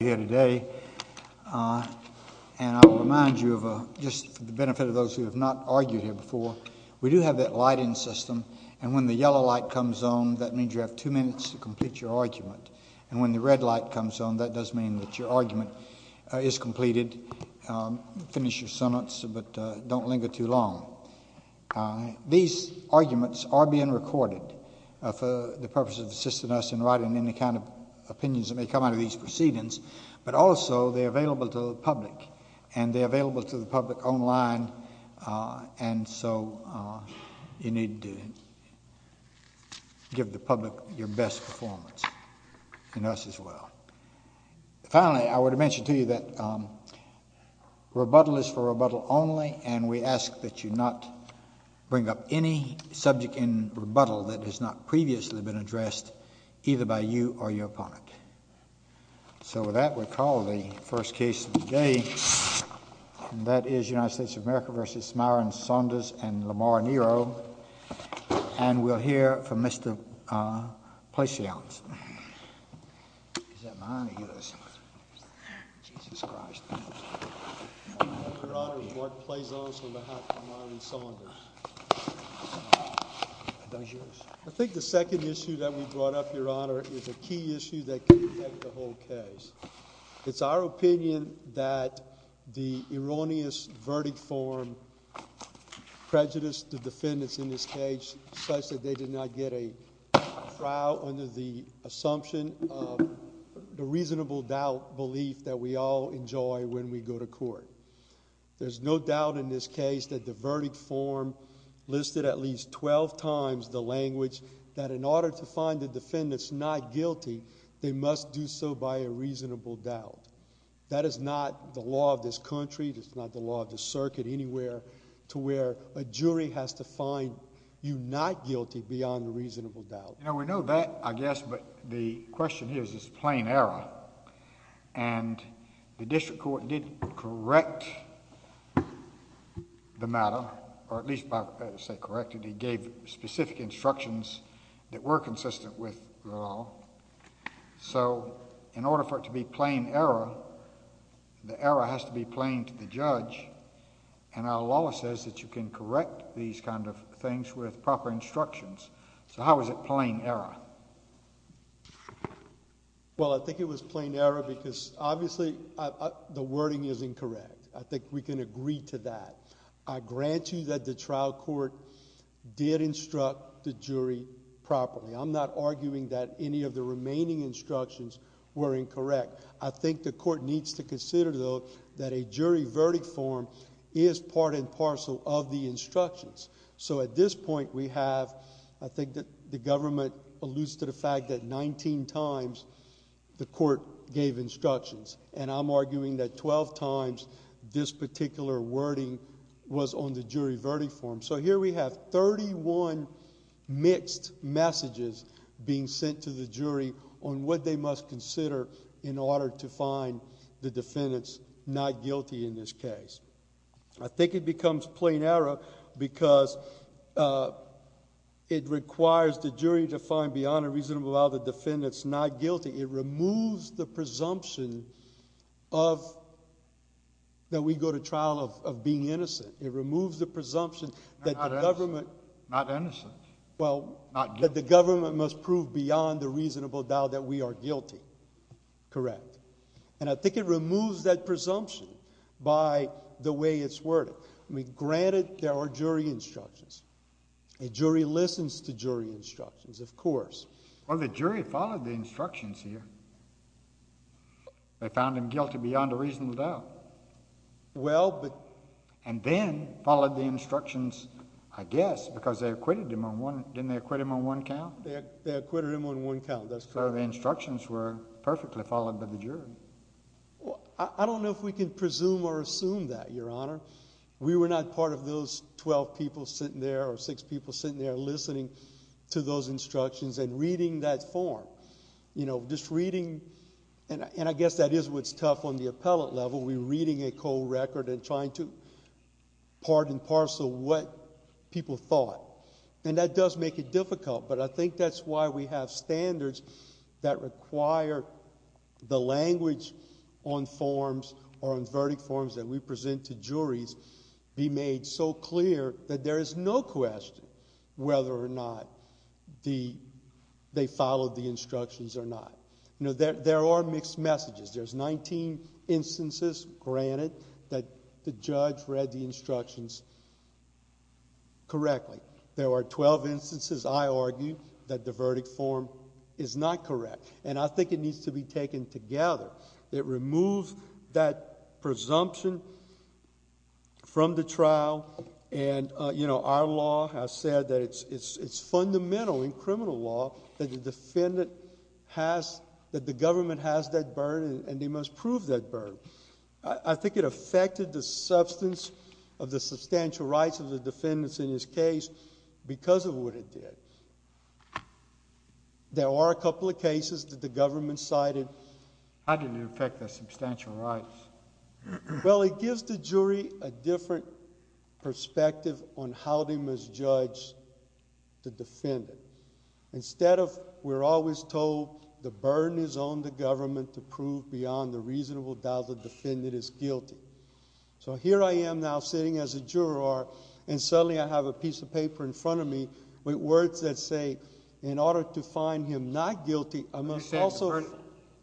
here today. And I'll remind you of a just the benefit of those who have not argued here before. We do have that lighting system. And when the yellow light comes on, that means you have two minutes to complete your argument. And when the red light comes on, that does mean that your argument is completed. Finish your sentence, but don't linger too long. These arguments are being recorded for the purpose of assisting us in writing any kind of opinions that may come out of these proceedings, but also they're available to the public and they're available to the public online. And so you need to give the public your best performance in us as well. Finally, I would mention to you that rebuttal is for rebuttal only. And we ask that you not bring up any subject in either by you or your opponent. So with that, we'll call the first case of the day. And that is United States of America v. Myron Saunders and Lamar Nero. And we'll hear from Mr. Plaisance. I think the second issue that we brought up, Your Honor, is a key issue that can protect the whole case. It's our opinion that the erroneous verdict form prejudiced the defendants in this case such that they did not get a trial under the assumption of the reasonable doubt belief that we all enjoy when we go to court. There's no doubt in this case that the verdict form listed at least twelve times the language that in order to find the defendants not guilty, they must do so by a reasonable doubt. That is not the law of this country. It's not the law of the circuit anywhere to where a jury has to find you not guilty beyond a reasonable doubt. You know, we know that, I guess, but the question here is, is it plain error? And the district court did correct the matter, or at least say corrected. He gave specific instructions that were consistent with the law. So in order for it to be plain error, the error has to be plain to the judge, and our law says that you can correct these kind of things with proper instructions. So how is it plain error? Well, I think it was plain error because, obviously, the wording is incorrect. I think we can agree to that. I grant you that the trial court did instruct the jury properly. I'm not sure that the court needs to consider, though, that a jury verdict form is part and parcel of the instructions. So at this point, we have, I think that the government alludes to the fact that nineteen times the court gave instructions, and I'm arguing that twelve times this particular wording was on the jury verdict form. So here we have thirty-one mixed messages being sent to the defendants, not guilty in this case. I think it becomes plain error because it requires the jury to find beyond a reasonable doubt the defendants not guilty. It removes the presumption that we go to trial of being innocent. It removes the presumption that the government... Not innocent. Well... Not guilty. That the government must prove beyond a reasonable doubt that we are guilty. Correct. And I think it removes that presumption by the way it's worded. I mean, granted, there are jury instructions. A jury listens to jury instructions, of course. Well, the jury followed the instructions here. They found him guilty beyond a reasonable doubt. Well, but... And then followed the instructions, I guess, because they acquitted him on one... didn't they acquit him on one count? They acquitted him on one count. That's correct. The instructions were perfectly followed by the jury. I don't know if we can presume or assume that, Your Honor. We were not part of those twelve people sitting there or six people sitting there listening to those instructions and reading that form. You know, just reading... and I guess that is what's tough on the appellate level. We're reading a cold record and trying to part and parcel what people thought. And that does make it difficult, but I think that's why we have standards that require the language on forms or on verdict forms that we present to juries be made so clear that there is no question whether or not the... they followed the instructions or not. You know, there are mixed messages. There's nineteen instances, granted, that the judge read the instructions correctly. There were twelve instances, I argue, that the verdict form is not correct. And I think it needs to be taken together. It removes that presumption from the trial and, you know, our law has said that it's fundamental in criminal law that the defendant has... that the government has that burden and they must prove that burden. I think it affected the substance of the substantial rights of the defendants in this case because of what it did. There are a couple of cases that the government cited... How did it affect the substantial rights? Well, it gives the jury a different perspective on how they must judge the defendant. Instead of we're always told the burden is on the government to prove beyond the reasonable doubt the defendant is guilty. So here I am now sitting as a juror and suddenly I have a piece of paper in front of me with words that say in order to find him not guilty...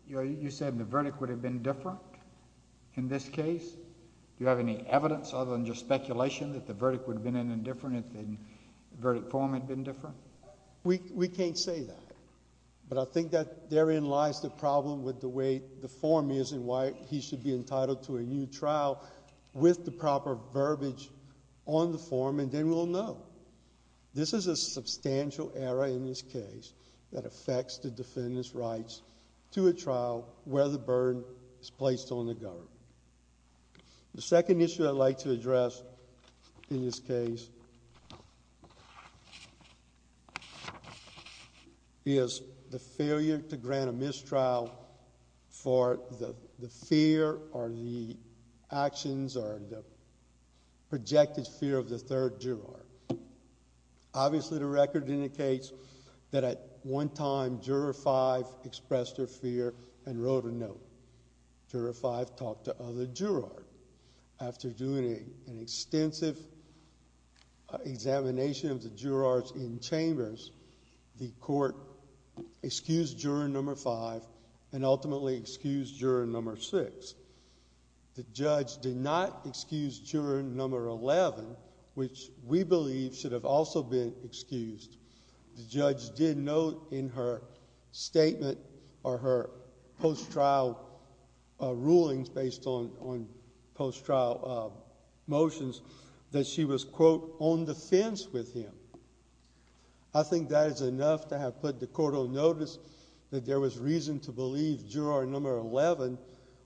You said the verdict would have been different in this case? Do you have any evidence other than just speculation that the verdict would have been different? But I think that therein lies the problem with the way the form is and why he should be entitled to a new trial with the proper verbiage on the form and then we'll know. This is a substantial error in this case that affects the defendant's rights to a trial where the burden is placed on the government. The second issue I'd like to address in this case is the failure to grant a mistrial for the fear or the actions or the projected fear of the third juror. Obviously the record indicates that at one time Juror 5 expressed her fear and wrote a note. Juror 5 talked to other jurors. After doing an extensive examination of the jurors in chambers, the court excused Juror Number 5 and ultimately excused Juror Number 6. The judge did not excuse Juror Number 11, which we believe should have also been excused. The judge did note in her statement or her post-trial rulings based on post-trial motions that she was, quote, on the fence with him. I think that is enough to have put the court on notice that there was reason to believe Juror Number 11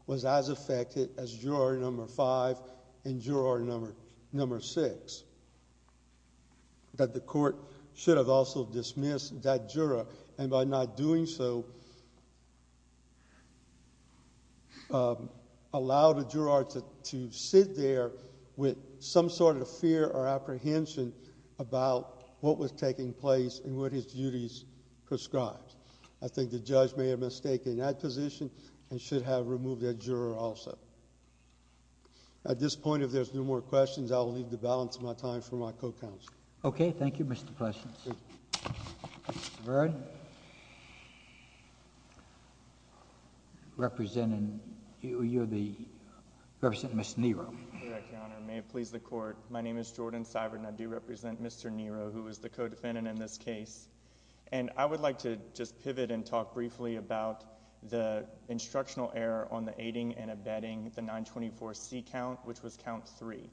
was as affected as Juror Number 5 and Juror Number 6. But the court should have also dismissed that juror and by not doing so allowed a juror to sit there with some sort of fear or apprehension about what was taking place and what his duties prescribed. I think the judge may have mistaken that position and should have moved that juror also. At this point, if there's no more questions, I will leave the balance of my time for my co-counsel. Okay, thank you, Mr. Plessens. Mr. Byrd, representing, you're the, representing Ms. Nero. Your Honor, may it please the court, my name is Jordan Seibert and I do represent Mr. Nero, who is the co-defendant in this case. And I would like to just pivot and talk briefly about the instructional error on the aiding and abetting the 924C count, which was count three.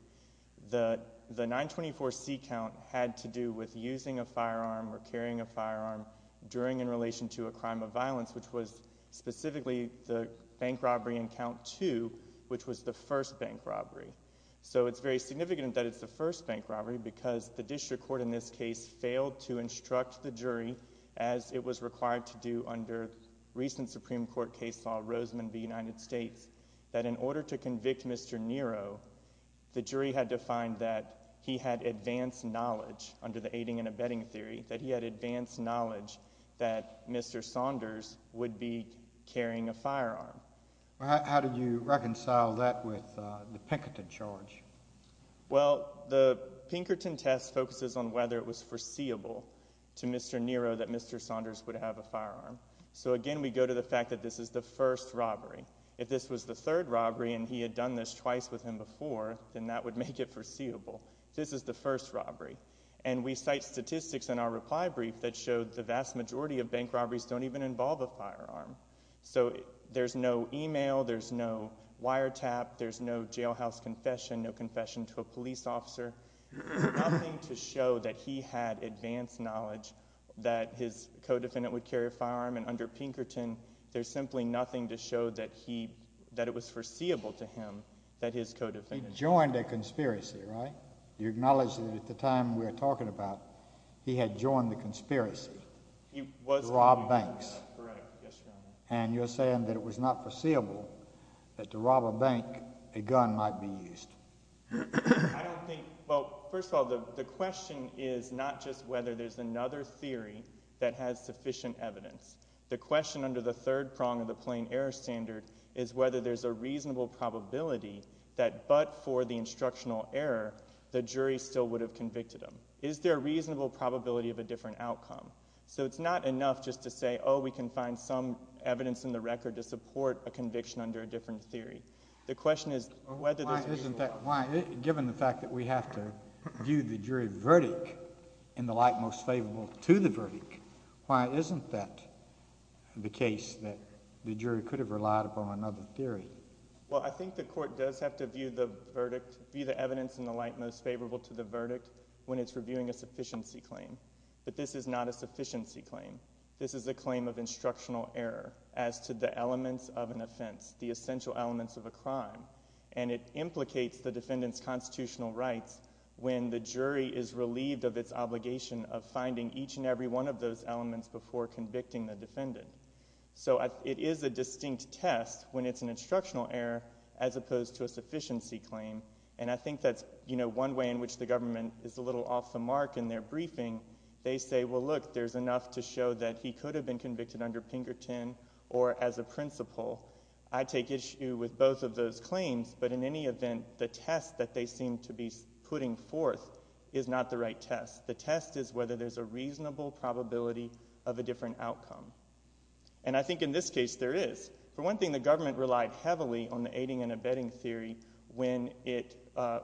The 924C count had to do with using a firearm or carrying a firearm during in relation to a crime of violence, which was specifically the bank robbery in count two, which was the first bank robbery. So it's very significant that it's the first bank robbery because the district court in this case failed to instruct the jury, as it was required to do under recent Supreme Court case law, Roseman v. United States, that in order to convict Mr. Nero, the jury had to find that he had advanced knowledge under the aiding and abetting theory, that he had advanced knowledge that Mr. Saunders would be carrying a firearm. How did you reconcile that with the Pinkerton charge? Well, the Pinkerton test focuses on whether it was foreseeable to Mr. Nero that Mr. Saunders would have a firearm. So again, we go to the fact that this is the first robbery. If this was the third robbery and he had done this twice with him before, then that would make it foreseeable. This is the first robbery. And we cite statistics in our reply brief that showed the vast majority of bank robberies don't even involve a firearm. So there's no email, there's no wiretap, there's no jailhouse confession, no confession to a police officer, nothing to show that he had advanced knowledge that his co-defendant would carry a firearm. And under Pinkerton, there's simply nothing to show that he, that it was foreseeable to him that his co-defendant... He joined a conspiracy, right? You acknowledge that at the time we're talking about, he had joined the conspiracy to rob banks. And you're saying that it was not foreseeable that to rob a bank, a gun might be used. I don't think... Well, first of all, the question is not just whether there's another theory that has sufficient evidence. The question under the third prong of the plain error standard is whether there's a reasonable probability that, but for the instructional error, the jury still would have convicted him. Is there a reasonable probability of a different outcome? So it's not enough just to say, oh, we can find some evidence in the record to support a conviction under a different theory. The question is whether there's... Why isn't that... Given the fact that we have to view the jury verdict in the light most favorable to the verdict, why isn't that the case that the jury could have relied upon another theory? Well, I think the court does have to view the verdict, view the evidence in the light most favorable to the verdict when it's reviewing a sufficiency claim. But this is not a sufficiency claim. This is a claim of instructional error as to the elements of an offense, the essential elements of a crime. And it implicates the defendant's constitutional rights when the jury is relieved of its obligation of finding each and every one of those elements before convicting the defendant. So it is a distinct test when it's an instructional error as opposed to a sufficiency claim. And I think that's one way in which the government is a little off the mark in their briefing. They say, well, look, there's enough to show that he could have been convicted under Pinkerton or as a principal. I take issue with both of those claims, but in any event, the test that they seem to be putting forth is not the right test. The test is whether there's a reasonable probability of a different outcome. And I think in this case there is. For one thing, the government relied heavily on the aiding and abetting theory when it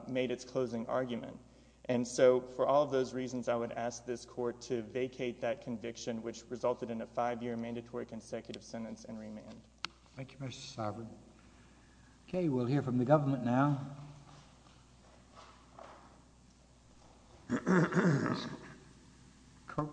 made its closing argument. And so for all of those reasons, I would ask this court to vacate that conviction, which resulted in a five-year mandatory consecutive sentence and remand. Thank you, Mr. Sarban. Okay, we'll hear from the government now. Okay. Coach. Okay.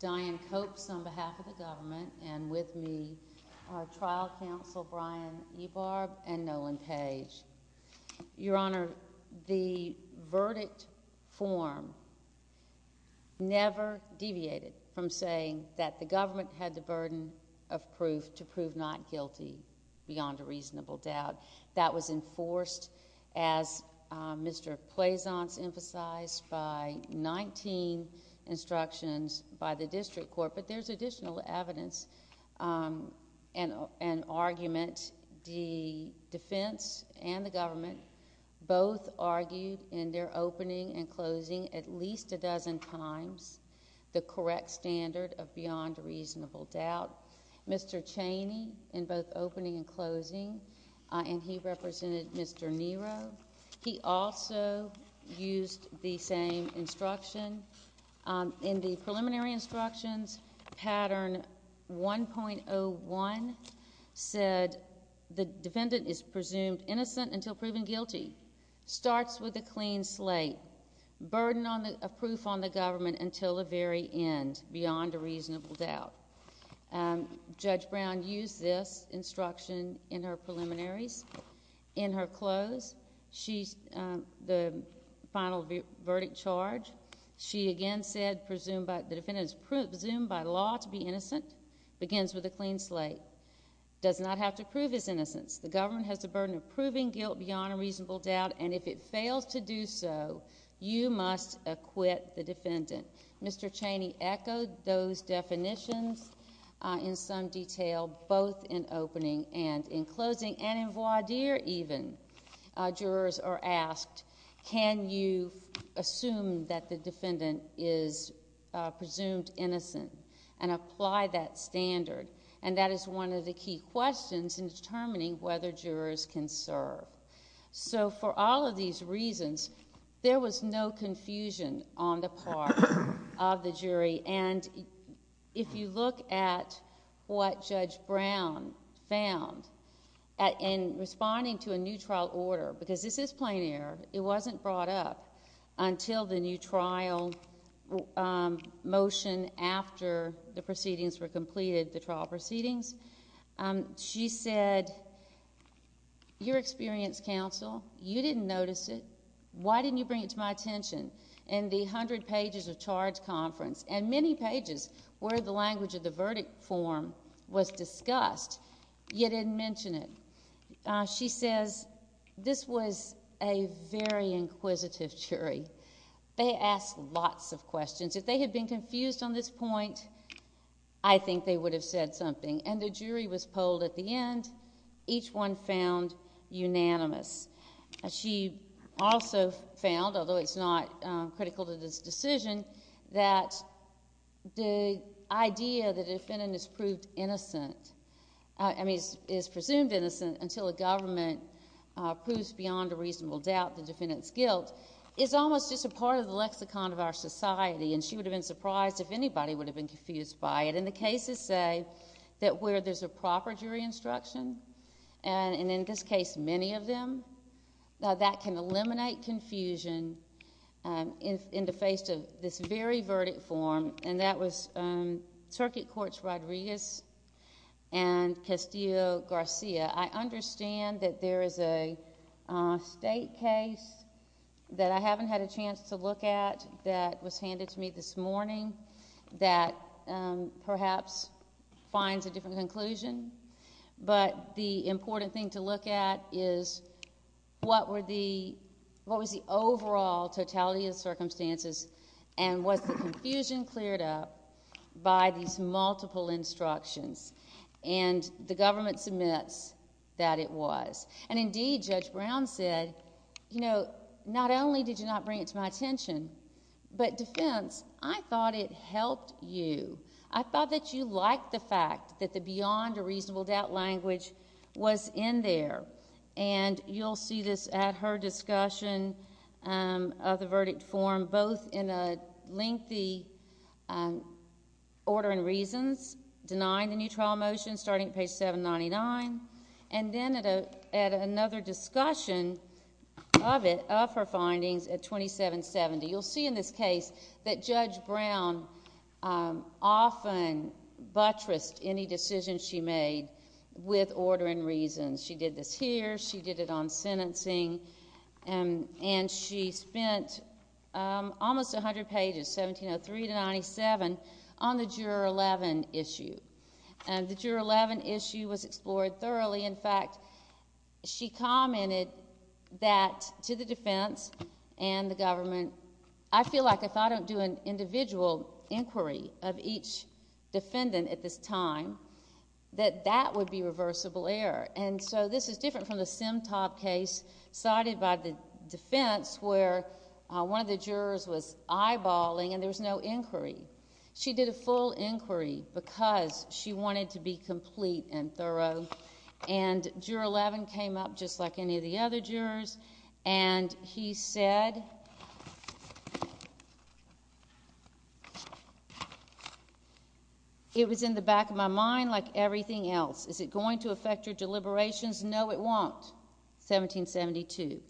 Diane Copes on behalf of the government and with me, trial counsel Brian Ebarb and Nolan Page. Your Honor, the verdict form never deviated from saying that the government had the burden of proof to prove not guilty beyond a reasonable doubt. That was enforced, as Mr. Plaisance emphasized, by 19 instructions by the district court. But there's additional evidence and argument. The defense and the government both argued in their opening and closing at least a dozen times the correct standard of beyond reasonable doubt. Mr. Chaney, in both opening and closing, and he represented Mr. Nero, he also used the same instruction. In the preliminary instructions, pattern 1.01 said the defendant is presumed innocent until proven guilty. Starts with a clean slate. Burden of proof on the government until the very end beyond a reasonable doubt. Judge Brown used this instruction in her preliminaries. In her close, the final verdict charge, she again said the defendant is presumed by law to be innocent. Begins with a clean slate. Does not have to prove his innocence. The government has the burden of proving guilt beyond a reasonable doubt, and if it fails to do so, you must acquit the defendant. Mr. Chaney echoed those definitions in some detail both in opening and in closing and in voir dire even. Jurors are asked, can you assume that the defendant is presumed innocent and apply that standard? That is one of the key questions in determining whether jurors can serve. For all of these reasons, there was no confusion on the part of the jury. If you look at what this is, this is plain error. It wasn't brought up until the new trial motion after the proceedings were completed, the trial proceedings. She said, your experience, counsel, you didn't notice it. Why didn't you bring it to my attention? In the 100 pages of charge conference and many pages where the language of the verdict form was discussed, you didn't mention it. She says, this was a very inquisitive jury. They asked lots of questions. If they had been confused on this point, I think they would have said something, and the jury was polled at the end. Each one found unanimous. She also found, although it's not presumed innocent until the government proves beyond a reasonable doubt the defendant's guilt, it's almost just a part of the lexicon of our society. She would have been surprised if anybody would have been confused by it. The cases say that where there's a proper jury instruction, and in this case, many of them, that can eliminate confusion in the face of this very case. I understand that there is a state case that I haven't had a chance to look at that was handed to me this morning that perhaps finds a different conclusion, but the important thing to look at is what was the overall totality of circumstances and was the confusion cleared up by these multiple instructions? The government submits that it was. Indeed, Judge Brown said, not only did you not bring it to my attention, but defense, I thought it helped you. I thought that you liked the fact that the beyond a reasonable doubt language was in there. You'll see this at her discussion of the verdict form, both in a lengthy order and reasons, denying the new trial motion, starting at page 799, and then at another discussion of it, of her findings at 2770. You'll see in this case that Judge Brown often buttressed any decision she made with order and reasons. She did this here, she did it on sentencing, and she spent almost 100 pages, 1703 to 97, on the Juror 11 issue. The Juror 11 issue was explored thoroughly. In fact, she commented that to the defense and the government, I feel like if I don't do an individual inquiry of each defendant at this time, that that would be reversible error. This is different from the Simtop case, cited by the defense, where one of the jurors was eyeballing and there was no inquiry. She did a full inquiry because she wanted to be complete and thorough. Juror 11 came up, just like any other jurors, and he said, it was in the back of my mind like everything else. Is it going to affect your deliberations? No, it won't. 1772.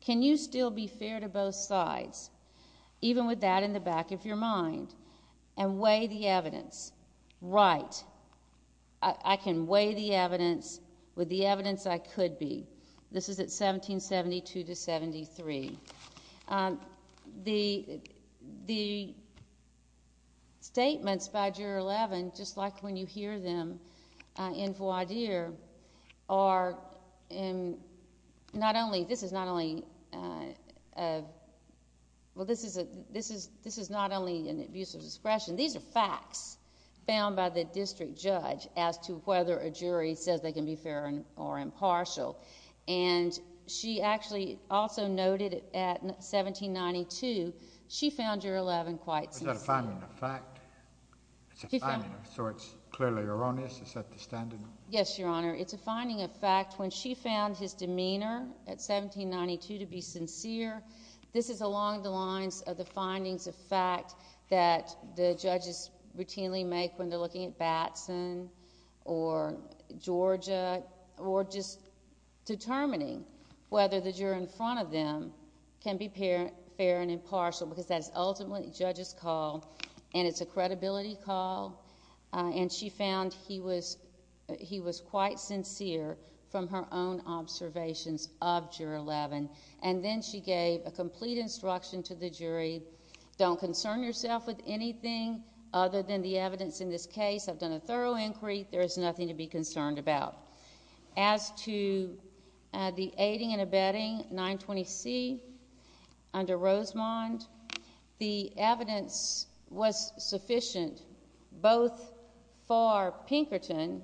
Can you still be fair to both sides, even with that in the back of your mind, and weigh the evidence? Right. I can weigh the evidence with the evidence I could be. This is at 1772 to 1773. The statements by Juror 11, just like when you hear them in voir dire, this is not only an abuse of discretion. These are facts found by the jury. She actually also noted at 1792, she found Juror 11 quite sincere. Is that a finding of fact? So it's clearly erroneous? Is that the standard? Yes, Your Honor. It's a finding of fact. When she found his demeanor at 1792 to be sincere, this is along the lines of the findings of fact that the judges routinely make when they're looking at Batson or Georgia, or just determining whether the juror in front of them can be fair and impartial, because that's ultimately a judge's call, and it's a credibility call. And she found he was quite sincere from her own observations of Juror 11. And then she gave a complete instruction to the jury, don't concern yourself with anything other than the evidence in this case. I've done a thorough inquiry. There is the aiding and abetting 920C under Rosemond. The evidence was sufficient both for Pinkerton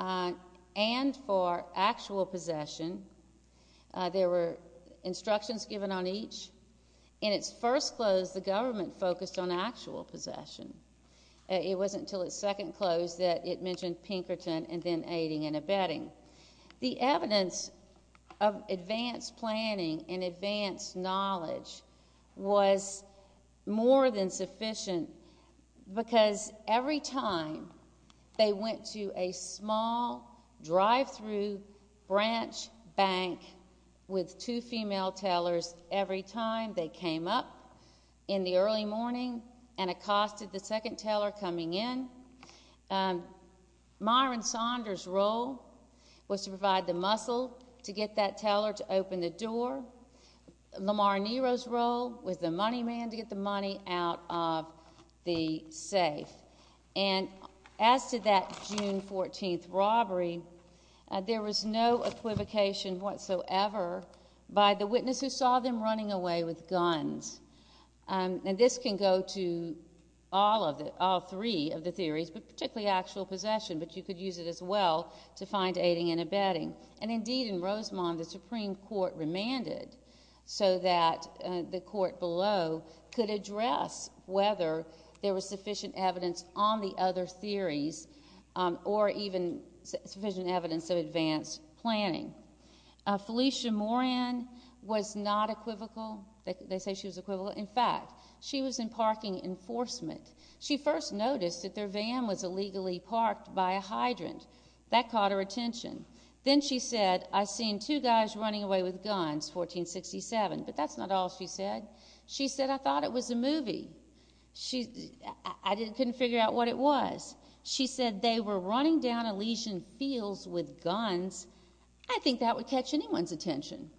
and for actual possession. There were instructions given on each. In its first close, the government focused on actual possession. It wasn't until its second close that it mentioned the evidence of advanced planning and advanced knowledge was more than sufficient, because every time they went to a small drive-thru branch bank with two female tellers, every time they came up in the early morning and accosted the second teller coming in, Myron Saunders' role was to provide the muscle to get that teller to open the door. Lamar Nero's role was the money man to get the money out of the safe. And as to that June 14th robbery, there was no equivocation whatsoever by the witness who saw them running away with guns. And this can go to all three of the theories, but particularly actual possession. But you could use it as well to find aiding and abetting. And indeed in Rosemond, the Supreme Court remanded so that the court below could address whether there was sufficient evidence on the other theories or even sufficient evidence of advanced planning. Felicia Moran was not equivocal. They say she was equivalent. In fact, she was in parking enforcement. She first noticed that their van was illegally parked by a hydrant. That caught her attention. Then she said, I've seen two guys running away with guns, 1467. But that's not all she said. She said, I thought it was a movie. I couldn't figure out what it was. She said they were running down Elysian Fields with guns. I think that would catch anyone's attention.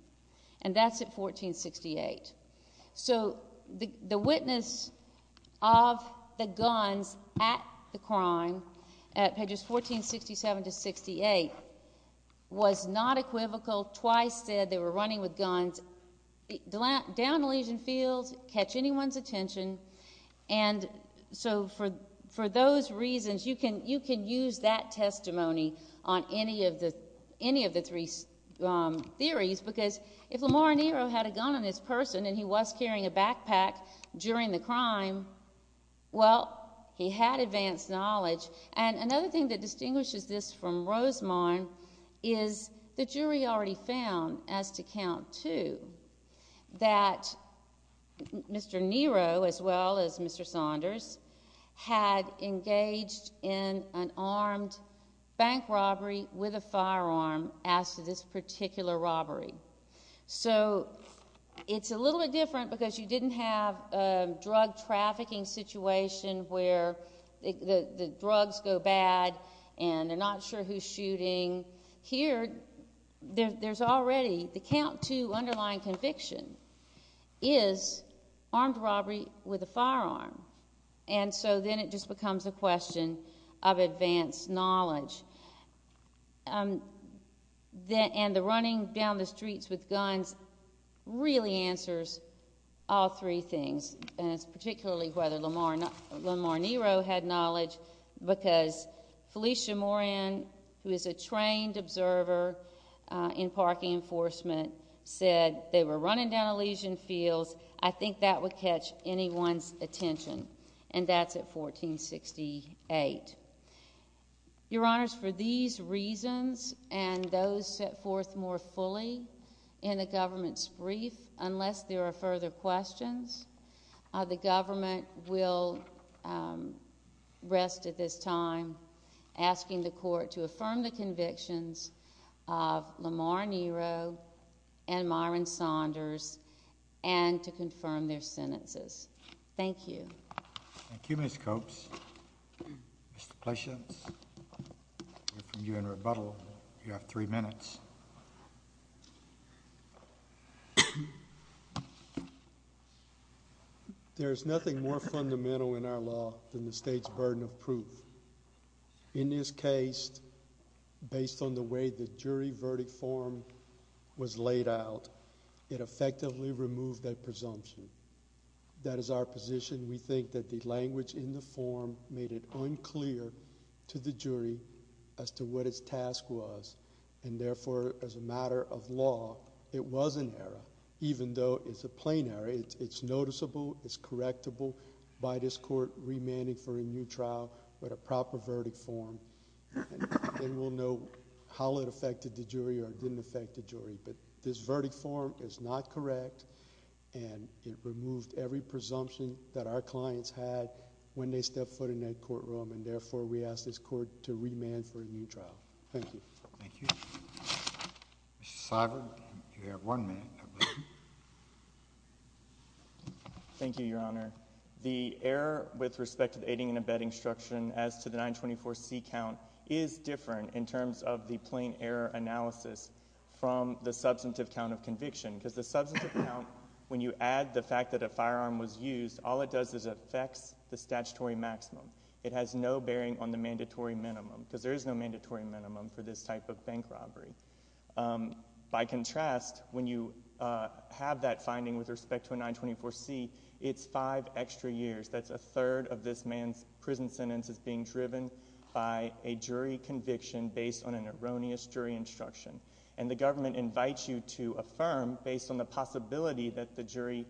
And that's at 1468. So the witness of the guns at the crime at pages 1467 to 68 was not equivocal. Twice said they were running with guns down Elysian Fields, catch anyone's attention. And so for those reasons, you can use that testimony on any of the three theories because if Lamar Nero had a gun on his person and he was carrying a backpack during the crime, well, he had advanced knowledge. And another thing that distinguishes this from Rosemond is the jury already found, as to count two, that Mr. Nero, as well as Mr. Saunders, had engaged in an armed bank robbery with a firearm as to this particular robbery. So it's a little bit different because you didn't have a drug trafficking situation where the drugs go bad and they're not sure who's shooting. Here, there's already the count two underlying conviction is armed robbery with a firearm. And so then it just becomes a question of advanced knowledge. And the running down the streets with guns really answers all three things, and it's particularly whether Lamar Nero had knowledge because Felicia Moran, who is a trained observer in parking enforcement, said they were running down Elysian Fields. I think that would catch anyone's attention, and that's at 1468. Your Honors, for these reasons and those set forth more fully in the government's brief, unless there are further questions, the government will rest at this time asking the Court to affirm the convictions of Lamar Nero and Myron Saunders and to confirm their sentences. Thank you. Thank you, Ms. Copes. Mr. Plashens, we're from UN Rebuttal. You have three minutes. There is nothing more fundamental in our law than the state's burden of proof. In this case, based on the way the jury verdict form was laid out, it effectively removed that presumption. That is our position. We think that the language in the form made it unclear to the jury as to what its task was, and therefore, as a matter of law, it was an error, even though it's a plain error. It's noticeable. It's correctable by this Court remanding for a new trial with a proper verdict form, and then we'll know how it affected the jury or didn't affect the jury. This verdict form is not correct, and it removed every presumption that our clients had when they were in the trial. Thank you. Thank you. Mr. Seibert, you have one minute. Thank you, Your Honor. The error with respect to the aiding and abetting instruction as to the 924C count is different in terms of the plain error analysis from the substantive count of conviction, because the substantive count, when you add the fact that a firearm was used, all it does is affects the statutory maximum. It has no bearing on the mandatory minimum, because there is no mandatory minimum for this type of bank robbery. By contrast, when you have that finding with respect to a 924C, it's five extra years. That's a third of this man's prison sentence is being driven by a jury conviction based on an erroneous jury instruction, and the government invites you to affirm based on the possibility that the jury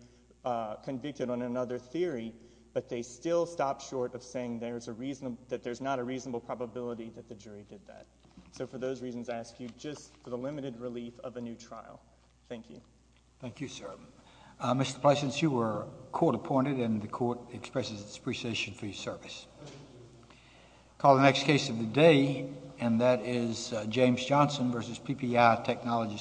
convicted on another theory, but they still stop short of saying that there's not a reasonable probability that the jury did that. So for those reasons, I ask you just for the limited relief of a new trial. Thank you. Thank you, sir. Mr. Plessens, you were court appointed, and the court expresses its appreciation for your service. I'll call the next case of the day, and that is James Johnson versus PPI Technology Services.